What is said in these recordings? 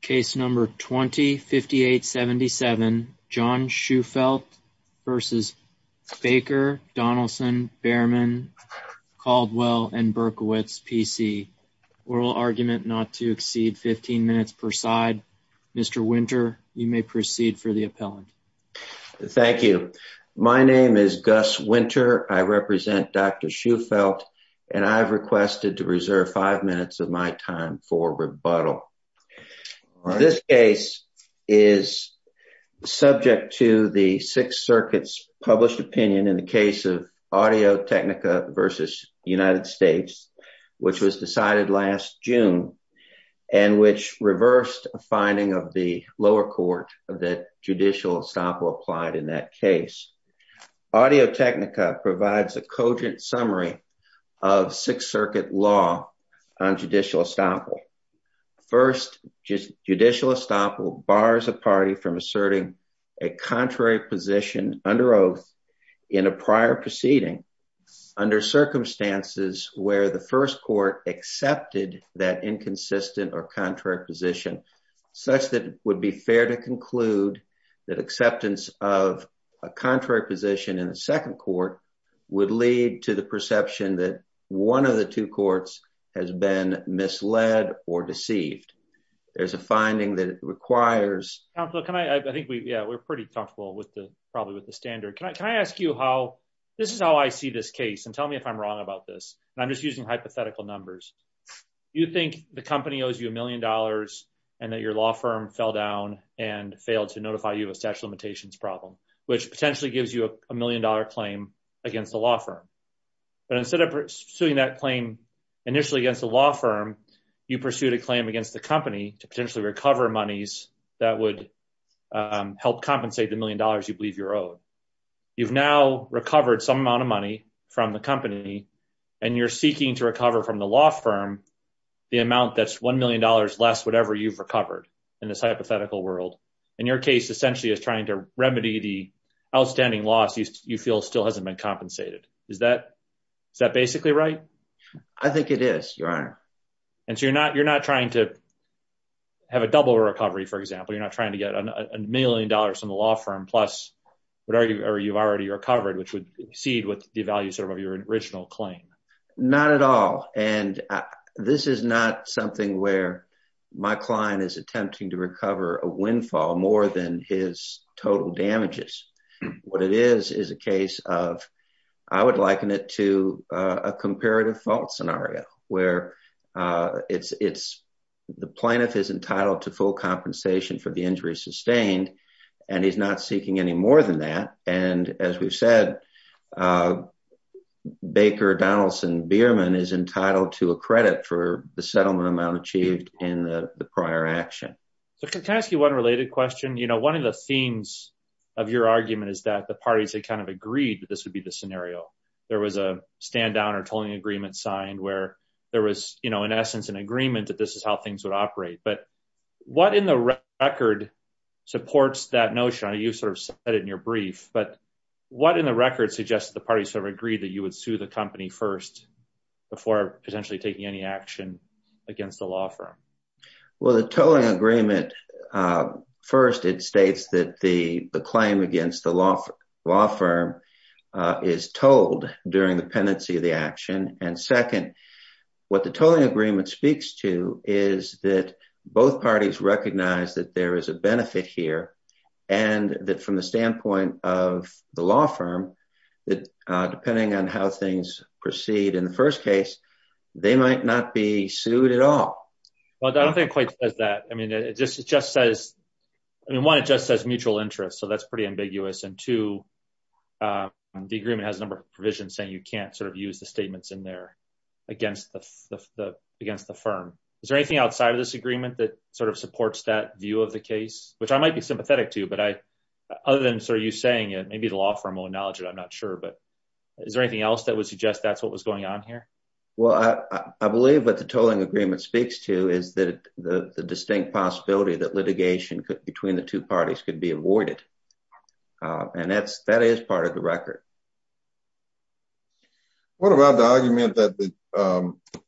Case number 20-58-77 John Shufeldt v. Baker Donelson Bearman Caldwell & Berkowitz, P.C. Oral argument not to exceed 15 minutes per side. Mr. Winter, you may proceed for the appellant. Thank you. My name is Gus Winter. I represent Dr. Shufeldt and I've requested to reserve five minutes of my time for rebuttal. This case is subject to the Sixth Circuit's published opinion in the case of Audio Technica v. United States, which was decided last June and which reversed a finding of the lower court that judicial estoppel applied in that case. Audio Technica provides a judicial estoppel. First, judicial estoppel bars a party from asserting a contrary position under oath in a prior proceeding under circumstances where the first court accepted that inconsistent or contrary position, such that it would be fair to conclude that acceptance of a contrary position in the second court would lead to the perception that one of the two courts has been misled or deceived. There's a finding that it requires... Counselor, can I, I think we, yeah, we're pretty comfortable with the, probably with the standard. Can I, can I ask you how, this is how I see this case and tell me if I'm wrong about this. And I'm just using hypothetical numbers. You think the company owes you a million dollars and that your law firm fell down and failed to notify you of a limitations problem, which potentially gives you a million dollar claim against the law firm. But instead of pursuing that claim initially against the law firm, you pursued a claim against the company to potentially recover monies that would help compensate the million dollars you believe you're owed. You've now recovered some amount of money from the company and you're seeking to recover from the law firm, the amount that's $1 million less, whatever you've recovered in this hypothetical world. And your case essentially is trying to remedy the outstanding loss you feel still hasn't been compensated. Is that, is that basically right? I think it is, your honor. And so you're not, you're not trying to have a double recovery, for example. You're not trying to get a million dollars from the law firm plus whatever you've already recovered, which would seed with the value sort of your original claim. Not at all. And this is not something where my client is attempting to recover a windfall more than his total damages. What it is, is a case of, I would liken it to a comparative fault scenario where it's, it's the plaintiff is entitled to full compensation for the injury sustained, and he's not seeking any more than that. And as we've said, Baker Donaldson Bierman is entitled to a credit for the settlement amount achieved in the prior action. So can I ask you one related question? You know, one of the themes of your argument is that the parties had kind of agreed that this would be the scenario. There was a stand down or tolling agreement signed where there was, you know, in essence, an agreement that this is how things would operate, but what in the record supports that notion? I know you've sort of said it in your brief, but what in the record suggests that the parties sort of agreed that you would sue the company first before potentially taking any action against the law firm? Well, the tolling agreement, first, it states that the claim against the law, law firm is told during the pendency of the action. And second, what the tolling agreement speaks to is that both parties recognize that there is a benefit here. And that from the standpoint of the law firm, that depending on how things proceed in the first case, they might not be sued at all. Well, I don't think it quite says that. I mean, it just, it just says, I mean, one, it just says mutual interest. So that's pretty ambiguous. And two, the agreement has a number of provisions saying you can't sort of use the statements in there against the, against the firm. Is there anything outside of this agreement that sort of supports that view of the case, which I might be sympathetic to, but I, other than sort of you saying it, maybe the law firm will acknowledge it. I'm not sure. But is there anything else that would suggest that's what was going on here? Well, I believe what the tolling agreement speaks to is that the distinct possibility that litigation could, between the two parties could be avoided. And that's, that is part of the record. What about the argument that the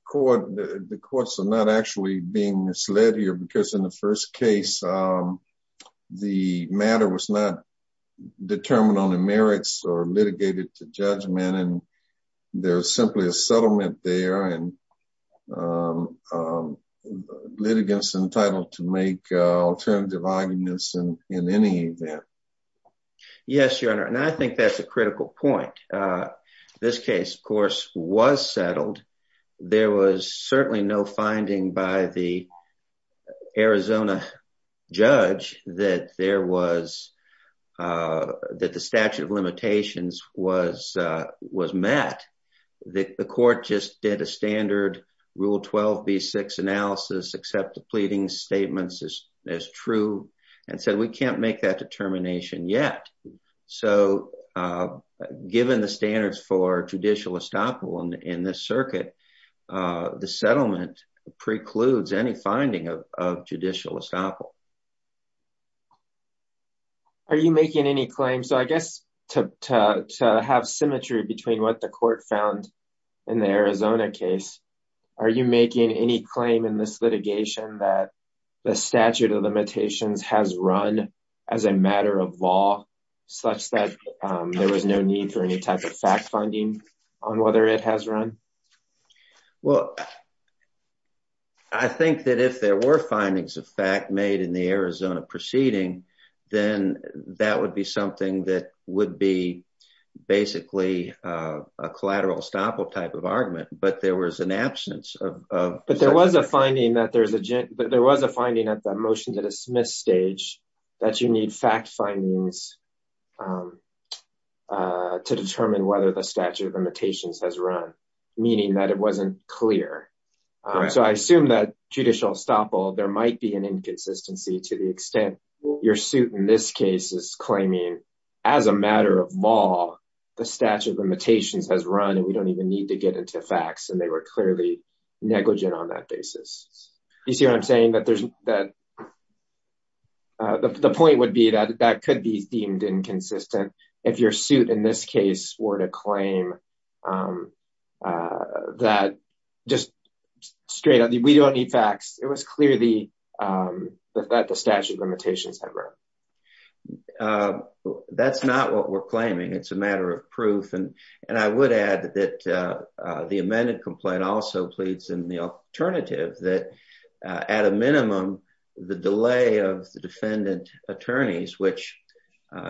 court, the courts are not actually being misled here, because in the first case, the matter was not determined on the merits or litigated to judgment. And there's simply a settlement there and litigants entitled to make alternative arguments in any event. Yes, Your Honor. And I think that's a critical point. This case, of course, was settled. There was certainly no finding by the Arizona judge that there was, that the statute of was met, that the court just did a standard Rule 12b-6 analysis, accept the pleading statements as true, and said, we can't make that determination yet. So given the standards for judicial estoppel in this circuit, the settlement precludes any finding of judicial estoppel. Are you making any claims? So I guess, to have symmetry between what the court found in the Arizona case, are you making any claim in this litigation that the statute of limitations has run as a matter of law, such that there was no need for any type of fact finding on whether it has run? Well, I think that if there were findings of fact made in the Arizona case, in the Arizona proceeding, then that would be something that would be basically a collateral estoppel type of argument. But there was an absence of... But there was a finding that there's a but there was a finding at the motion to dismiss stage that you need fact findings to determine whether the statute of limitations has run, meaning that it wasn't clear. So I assume that judicial estoppel, there might be an inconsistency to the extent your suit in this case is claiming, as a matter of law, the statute of limitations has run and we don't even need to get into facts, and they were clearly negligent on that basis. You see what I'm saying? That there's that the point would be that that could be deemed inconsistent, if your suit in this case were to be that, just straight up, we don't need facts. It was clear that the statute of limitations had run. That's not what we're claiming. It's a matter of proof. And I would add that the amended complaint also pleads in the alternative that, at a minimum, the delay of the defendant attorneys, which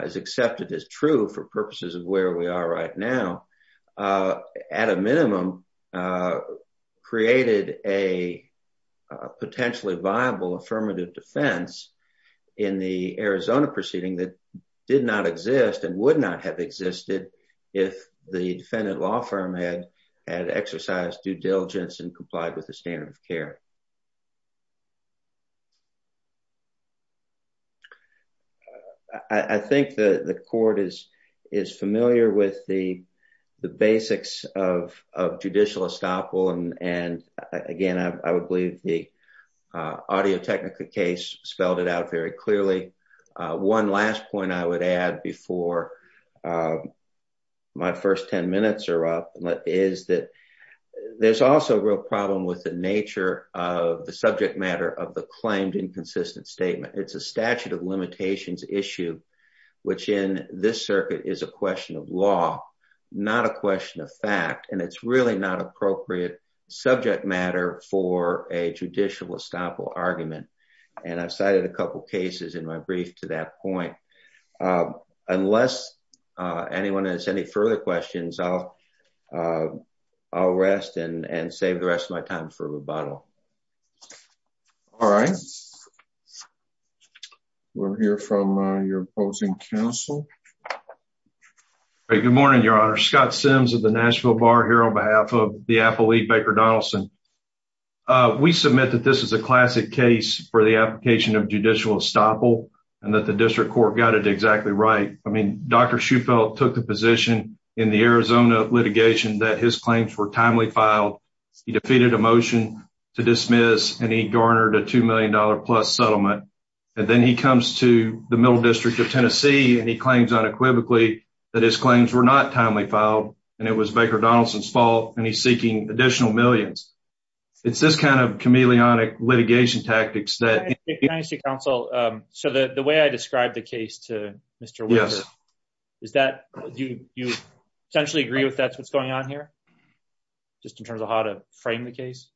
is accepted as true for purposes of where we are right now, at a minimum, created a potentially viable affirmative defense in the Arizona proceeding that did not exist and would not have existed if the defendant law firm had had exercised due diligence and complied with I think the court is familiar with the basics of judicial estoppel and, again, I would believe the audio technica case spelled it out very clearly. One last point I would add before my first 10 minutes are up is that there's also a real problem with the nature of the subject of limitations issue, which in this circuit is a question of law, not a question of fact. And it's really not appropriate subject matter for a judicial estoppel argument. And I've cited a couple cases in my brief to that point. Unless anyone has any further questions, I'll rest and save the rest of my time for rebuttal. All right. We'll hear from your opposing counsel. Good morning, Your Honor. Scott Sims of the Nashville Bar here on behalf of the appellee, Baker Donaldson. We submit that this is a classic case for the application of judicial estoppel and that the district court got it exactly right. I mean, Dr. Shufelt took the position in the Arizona litigation that his claims were timely filed. He defeated a motion to dismiss and he garnered a $2 million plus settlement. And then he comes to the middle district of Tennessee and he claims unequivocally that his claims were not timely filed and it was Baker Donaldson's fault and he's seeking additional millions. It's this kind of chameleonic litigation tactics that... Your Honor, if you could speak to counsel. So the way I described the case to Mr. Williams, is that you essentially agree with that's what's on here? Just in terms of how to frame the case?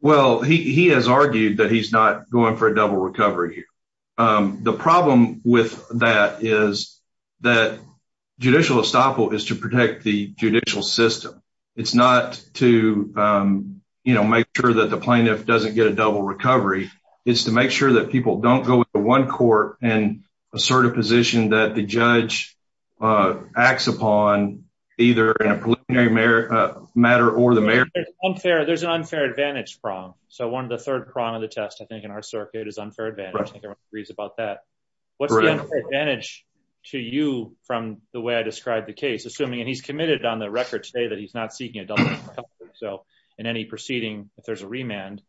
Well, he has argued that he's not going for a double recovery. The problem with that is that judicial estoppel is to protect the judicial system. It's not to, you know, make sure that the plaintiff doesn't get a double recovery. It's to make sure that people don't go to one court and assert a position that the judge acts upon either in a preliminary matter or the mayor. There's an unfair advantage prong. So one of the third prong of the test, I think, in our circuit is unfair advantage. I think everyone agrees about that. What's the advantage to you from the way I described the case? Assuming and he's committed on the record today that he's not seeking a double recovery. So in any proceeding, if there's a remand,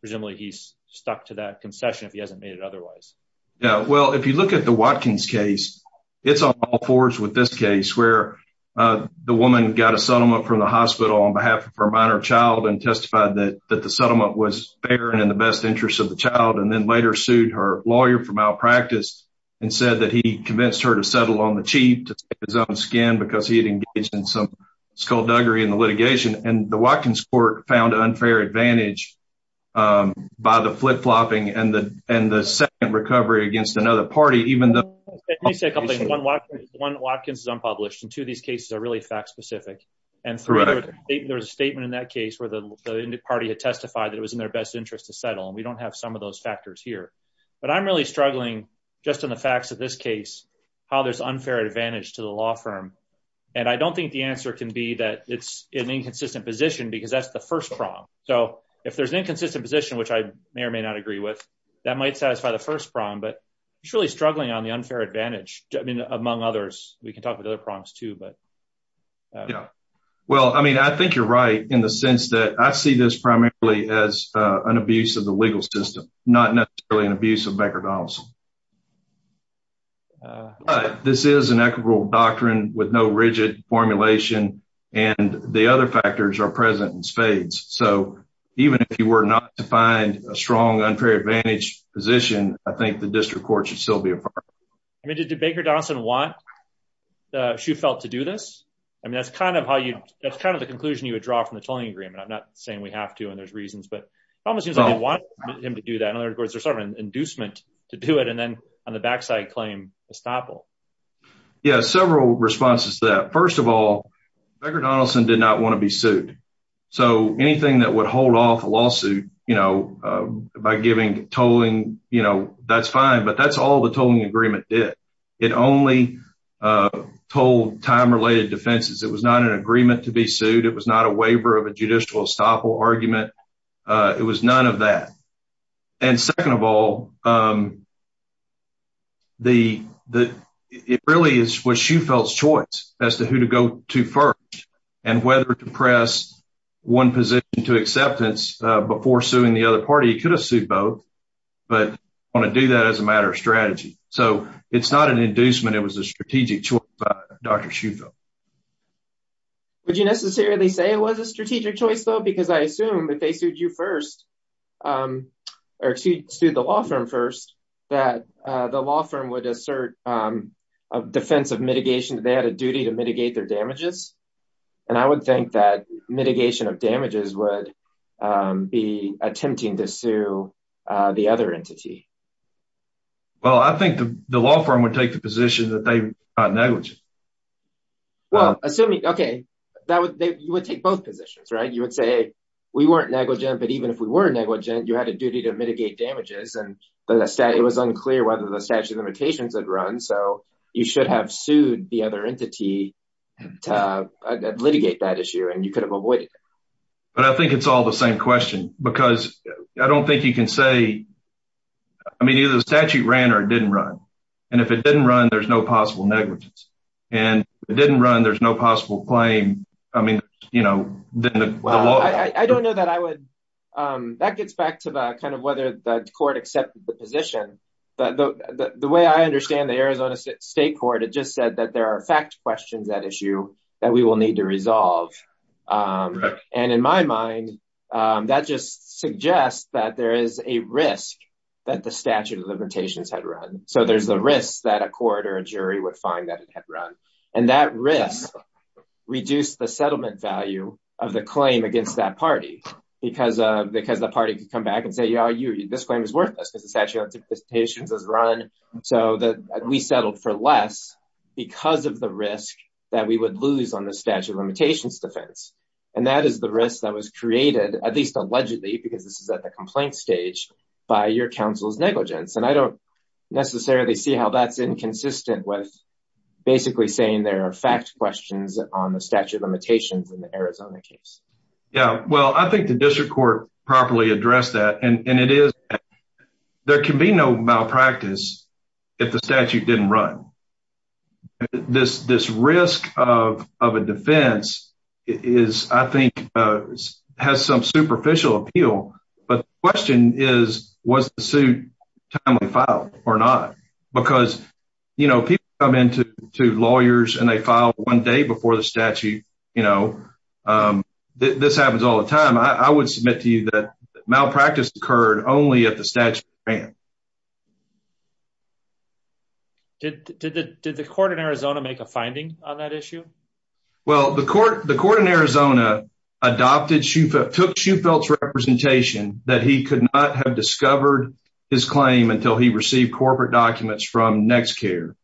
presumably he's stuck to that concession if he hasn't made it otherwise. Yeah. Well, if you look at the Watkins case, it's on all fours with this case where the woman got a settlement from the hospital on behalf of her minor child and testified that the settlement was fair and in the best interest of the child and then later sued her lawyer for malpractice and said that he convinced her to settle on the cheap to take his own skin because he had engaged in some skullduggery in the litigation. And the Watkins court found unfair advantage by the flip flopping and the and the second recovery against another party, even though one Watkins is unpublished and two of these cases are really fact specific. And there's a statement in that case where the party had testified that it was in their best interest to settle. And we don't have some of those factors here. But I'm really struggling just in the facts of this case, how there's unfair advantage to the law firm. And I don't think the answer can be that it's an inconsistent position, because that's the first prong. So if there's an inconsistent position, which I may or may not agree with, that might satisfy the first prong, but it's really struggling on the unfair advantage. I mean, among others, we can talk about other prongs, too. But yeah, well, I mean, I think you're right in the sense that I see this primarily as an abuse of the legal system, not necessarily an abuse of bankruptcy. But this is an equitable doctrine with no rigid formulation. And the other factors are present in spades. So even if you were not to find a strong unfair advantage position, I think the district court should still be a part of it. I mean, did Baker Donson want she felt to do this? I mean, that's kind of how you that's kind of the conclusion you would draw from the tolling agreement. I'm not saying we have to and there's reasons but it almost seems him to do that. In other words, there's some inducement to do it and then on the backside claim estoppel. Yeah, several responses to that. First of all, Baker Donaldson did not want to be sued. So anything that would hold off a lawsuit, you know, by giving tolling, you know, that's fine. But that's all the tolling agreement did. It only told time related defenses, it was not an argument. It was none of that. And second of all, the, the, it really is what she felt choice as to who to go to first, and whether to press one position to acceptance before suing the other party could have sued both, but want to do that as a matter of strategy. So it's not an inducement, it was a strategic choice by Dr. Schutho. Would you necessarily say it was a strategic choice, though, because I assume that they sued you first, or excuse me, sued the law firm first, that the law firm would assert a defense of mitigation, they had a duty to mitigate their damages. And I would think that mitigation of damages would be attempting to sue the other entity. Well, I think the law firm would take the position that they are negligent. Well, assuming Okay, that would, they would take both positions, right? You would say, we weren't negligent. But even if we were negligent, you had a duty to mitigate damages. And the stat, it was unclear whether the statute of limitations had run. So you should have sued the other entity to litigate that issue. And you could have avoided it. But I think it's all the I mean, either the statute ran or didn't run. And if it didn't run, there's no possible negligence. And it didn't run. There's no possible claim. I mean, you know, I don't know that I would. That gets back to the kind of whether the court accepted the position. But the way I understand the Arizona State Court, it just said that there are fact questions that issue that we will need to resolve. And in my mind, that just suggests that there is a risk that the statute of limitations had run. So there's a risk that a court or a jury would find that it had run. And that risk, reduce the settlement value of the claim against that party. Because, because the party could come back and say, yeah, you this claim is worthless, because the statute of limitations has run. So that we settled for less, because of the risk that we would lose on the statute of limitations defense. And that is the risk that was created, at least allegedly, because this is at the complaint stage by your counsel's negligence. And I don't necessarily see how that's inconsistent with basically saying there are fact questions on the statute of limitations in the Arizona case. Yeah, well, I think the district court properly addressed that. And it is. There can be no malpractice. If the statute didn't run. This this risk of a defense is, I think, has some superficial appeal. But the question is, was the suit timely filed or not? Because, you know, people come into to lawyers and they file one day before the statute, you know, this happens all the time, I would submit to you that malpractice occurred only at the statute of limitations. Did the did the court in Arizona make a finding on that issue? Well, the court, the court in Arizona, adopted she took she felt representation that he could not have discovered his claim until he received corporate documents from next care.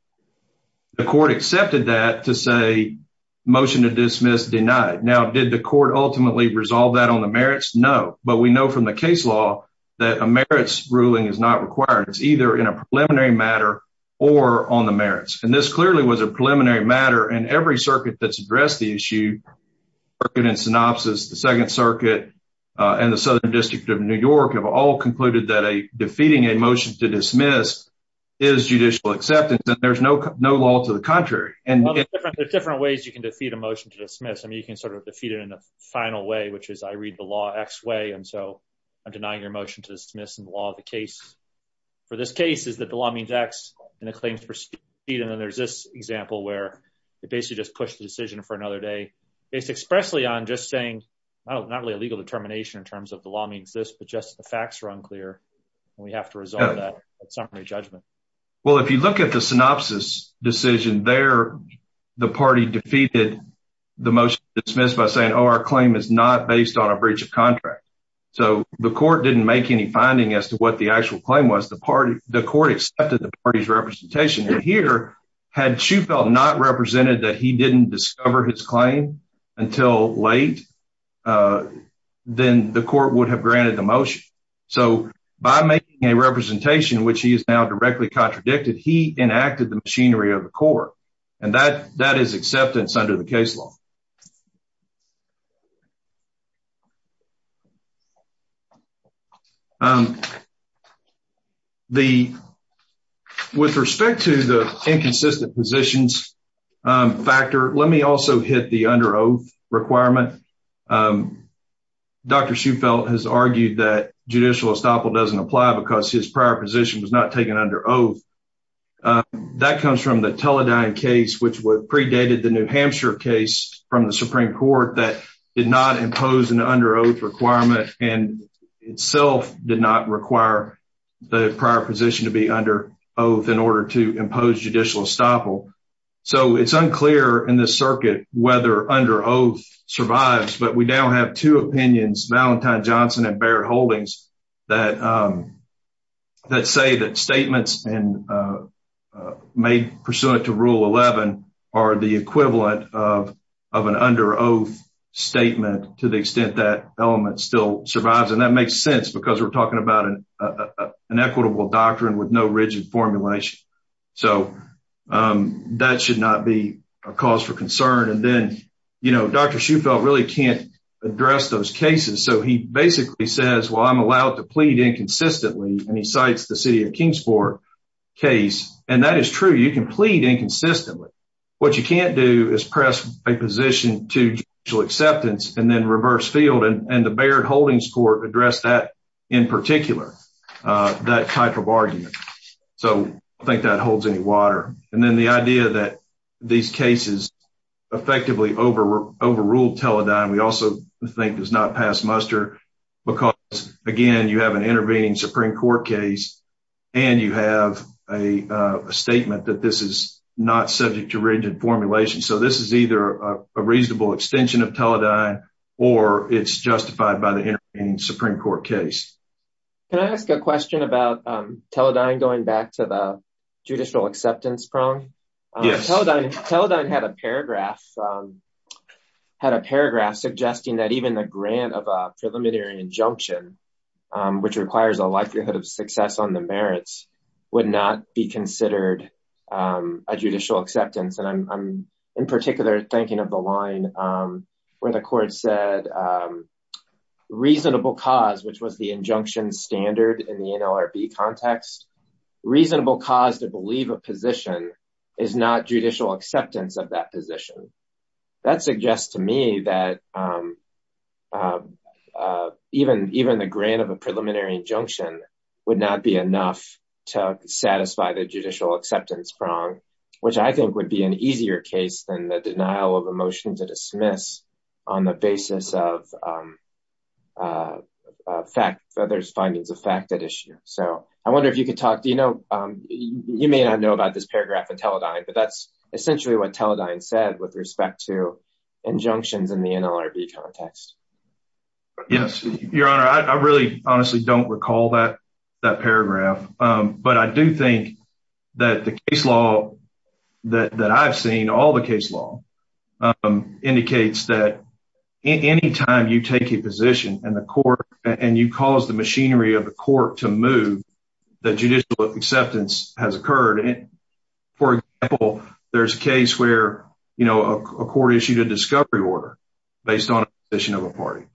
The court accepted that to say, motion to dismiss denied. Now, did the court ultimately resolve that on the merits? No, but we know from the case law, that a merits ruling is not required, it's either in a preliminary matter, or on the merits. And this clearly was a preliminary matter and every circuit that's addressed the issue in synopsis, the Second Circuit, and the Southern District of New York have all concluded that a defeating a motion to dismiss is judicial acceptance. And there's no no law to the contrary. And there's different ways you can defeat a motion to dismiss. I mean, you can sort of defeat it in a final way, which is I read the law x way. And so I'm denying your motion to dismiss and law the case for this case is that the law means x claims proceed. And then there's this example where it basically just pushed the decision for another day, based expressly on just saying, not really a legal determination in terms of the law means this, but just the facts are unclear. And we have to resolve that summary judgment. Well, if you look at the synopsis decision there, the party defeated the most dismissed by saying, Oh, our claim is not based on a breach of contract. So the court didn't make any finding as to what the actual claim was the party, the court accepted the party's representation here, had she felt not represented that he didn't discover his claim until late, then the court would have granted the motion. So by making a representation, which he is now directly contradicted, he enacted the machinery of the court. And that that is acceptance under the case law. The with respect to the inconsistent positions factor, let me also hit the under oath requirement. Dr. She felt has argued that judicial estoppel doesn't apply because his Teledyne case which was predated the New Hampshire case from the Supreme Court that did not impose an under oath requirement and itself did not require the prior position to be under oath in order to impose judicial estoppel. So it's unclear in the circuit, whether under oath survives, but we now have two opinions, Valentine Johnson and Barrett Holdings, that that say that statements and made pursuant to Rule 11 are the equivalent of, of an under oath statement to the extent that element still survives. And that makes sense, because we're talking about an equitable doctrine with no rigid formulation. So that should not be a cause for concern. And then, you know, Dr. She felt really can't address those cases. So he basically says, Well, I'm allowed to plead inconsistently, and he cites the city of Kingsport case. And that is true, you can plead inconsistently, what you can't do is press a position to judicial acceptance, and then reverse field and the Barrett Holdings court address that, in particular, that type of argument. So I think that holds any water. And then the idea that these cases, effectively over overruled Teledyne, we also think does not pass muster. Because, again, you have an intervening Supreme Court case. And you have a statement that this is not subject to rigid formulation. So this is either a reasonable extension of Teledyne, or it's justified by the Supreme Court case. Can I ask a question about Teledyne going back to the judicial acceptance prong? Teledyne had a paragraph, had a paragraph suggesting that even the grant of a preliminary injunction, which requires a likelihood of success on the merits, would not be considered a judicial acceptance. And I'm in particular thinking of the line where the court said, reasonable cause, which was the injunction standard in the NLRB context, reasonable cause to believe a position is not judicial acceptance of that position. That suggests to me that even the grant of a preliminary injunction would not be enough to satisfy the judicial acceptance prong, which I think would be an easier case than the denial of a motion to dismiss on the basis of a fact that there's findings of fact at issue. So I wonder if you could talk, you know, you may not know about this paragraph in Teledyne, but that's essentially what Teledyne said with respect to injunctions in the NLRB context. Yes, Your Honor, I really honestly don't recall that that paragraph. But I do think that the case law that I've seen, all the case law indicates that any time you take a position in the court, and you cause the machinery of the court to move, that judicial acceptance has occurred. For example, there's a case where, you know, a court issued a discovery order based on a position of a party,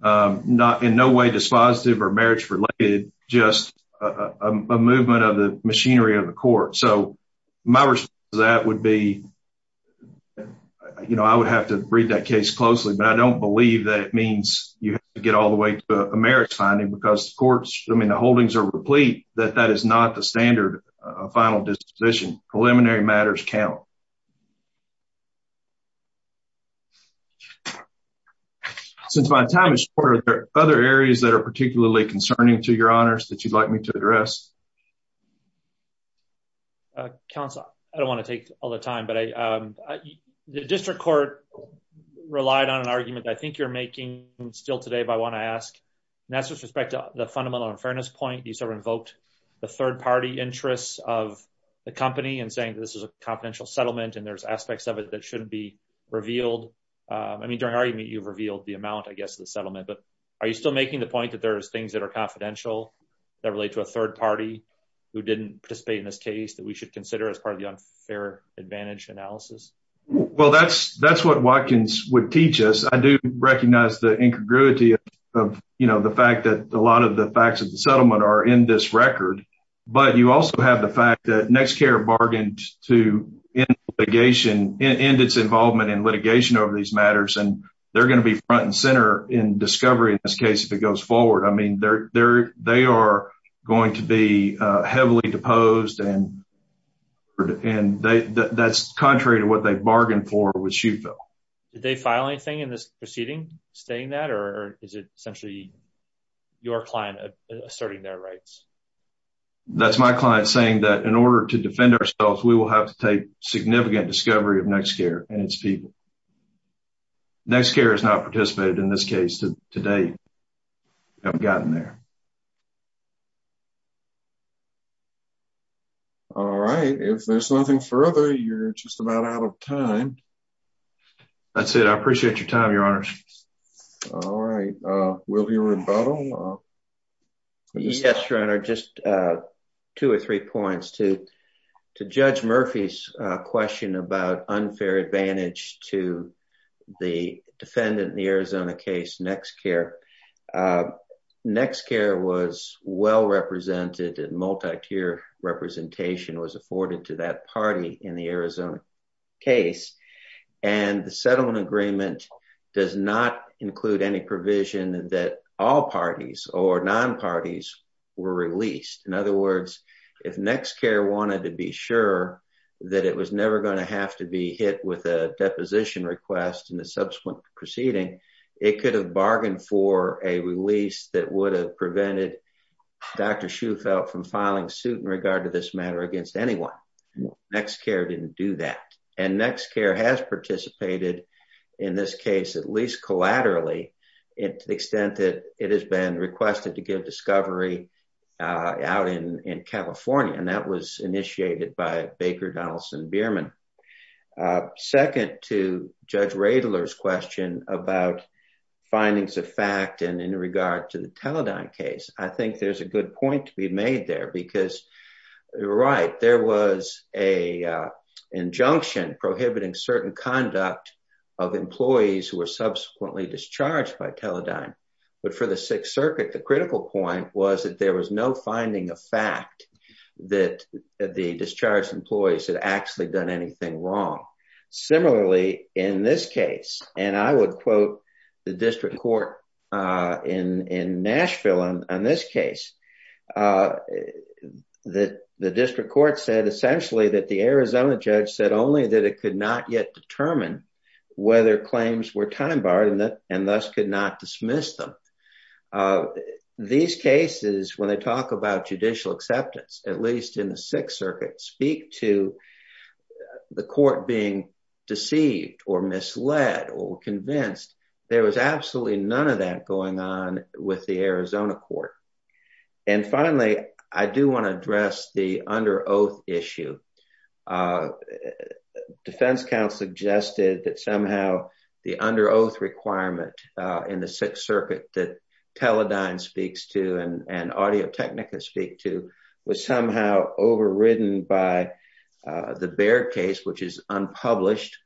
not in no way dispositive or marriage related, just a movement of the machinery of the court. So my response to that would be, you know, I would have to read that case closely. But I don't believe that it means you get all the way to a marriage finding because courts, I mean, the holdings are replete, that that is not the standard final disposition. Preliminary matters count. Since my time is short, are there other areas that are particularly concerning to Your Honors that you'd like me to address? Counsel, I don't want to take all the time, but the district court relied on an argument, I think you're making still today, but I want to ask, and that's with respect to the fundamental unfairness point, you sort of invoked the third party interests of the company and saying this is a confidential settlement, and there's aspects of it that shouldn't be revealed. I mean, during argument, you've revealed the amount, I guess, of the settlement, but are you still making the that relate to a third party who didn't participate in this case that we should consider as part of the unfair advantage analysis? Well, that's what Watkins would teach us. I do recognize the incongruity of, you know, the fact that a lot of the facts of the settlement are in this record. But you also have the fact that NexCare bargained to end litigation, end its involvement in litigation over these matters, and they're going to be front and center in discovery in this case if it goes forward. I mean, they are going to be heavily deposed, and that's contrary to what they bargained for with Shufill. Did they file anything in this proceeding stating that, or is it essentially your client asserting their rights? That's my client saying that in order to defend ourselves, we will have to take significant discovery of NexCare and its I've gotten there. All right. If there's nothing further, you're just about out of time. That's it. I appreciate your time, Your Honor. All right. Will you rebuttal? Yes, Your Honor. Just two or three points. To Judge Murphy's question about unfair advantage to the defendant in the Arizona case, NexCare. NexCare was well represented and multi-tier representation was afforded to that party in the Arizona case. And the settlement agreement does not include any provision that all parties or non-parties were released. In other words, if NexCare wanted to be sure that it was never going to have to be hit with a deposition request in the subsequent proceeding, it could have bargained for a release that would have prevented Dr. Shufill from filing suit in regard to this matter against anyone. NexCare didn't do that. And NexCare has participated in this case, at least collaterally to the extent that it has been requested to give discovery out in California. That was initiated by Baker Donaldson Bierman. Second to Judge Radler's question about findings of fact and in regard to the Teledyne case, I think there's a good point to be made there because you're right. There was an injunction prohibiting certain conduct of employees who were subsequently discharged by Teledyne. But for the Sixth Circuit, the critical point was that there was no finding of fact that the discharged employees had actually done anything wrong. Similarly, in this case, and I would quote the district court in Nashville on this case, that the district court said essentially that the Arizona judge said only that it could not determine whether claims were time-barred and thus could not dismiss them. These cases, when they talk about judicial acceptance, at least in the Sixth Circuit, speak to the court being deceived or misled or convinced. There was absolutely none of that going on with the Arizona court. And finally, I do want to address the under oath issue. The defense counsel suggested that somehow the under oath requirement in the Sixth Circuit that Teledyne speaks to and Audio-Technica speak to was somehow overridden by the Baird case, which is unpublished,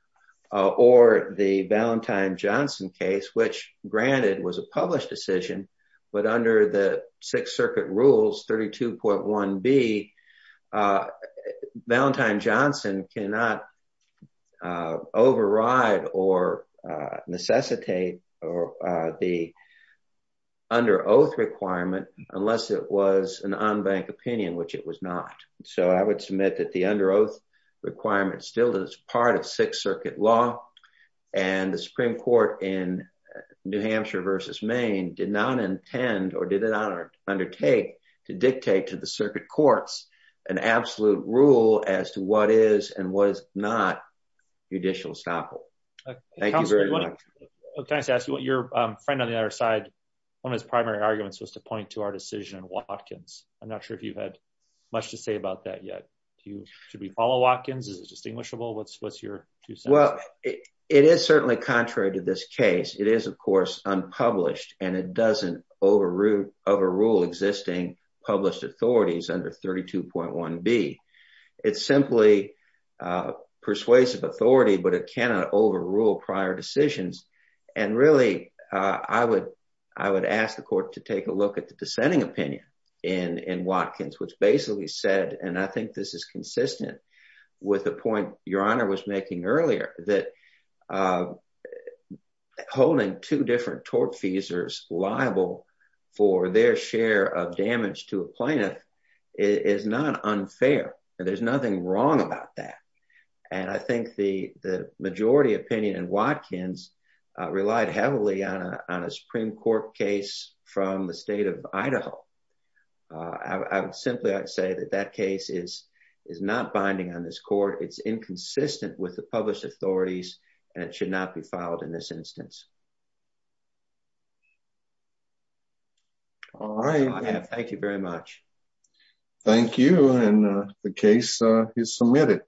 or the Valentine-Johnson case, which granted was a published decision, but under the Sixth Circuit rules 32.1b, Valentine-Johnson cannot override or necessitate the under oath requirement unless it was an unbanked opinion, which it was not. So I would submit that the under oath requirement still is part of Sixth Circuit law, and the Supreme Court in New Hampshire versus Maine did not intend or did not undertake to dictate to the circuit courts an absolute rule as to what is and what is not judicial estoppel. Thank you very much. Counselor, can I just ask you, your friend on the other side, one of his primary arguments was to point to our decision in Watkins. I'm not sure if you've had much to say about that yet. Should we follow Watkins? Is it distinguishable? What's your two cents? It is certainly contrary to this case. It is, of course, unpublished, and it doesn't overrule existing published authorities under 32.1b. It's simply persuasive authority, but it cannot overrule prior decisions. And really, I would ask the court to take a look at the dissenting opinion in Watkins, which basically said, and I think this is consistent with the point your honor was making earlier, that holding two different tort feasors liable for their share of damage to a plaintiff is not unfair. There's nothing wrong about that. And I think the majority opinion in Watkins relied heavily on a Supreme Court case from the state of Idaho. I would simply say that that case is not binding on this court. It's inconsistent with the published authorities, and it should not be filed in this instance. All right. Thank you very much. Thank you, and the case is submitted.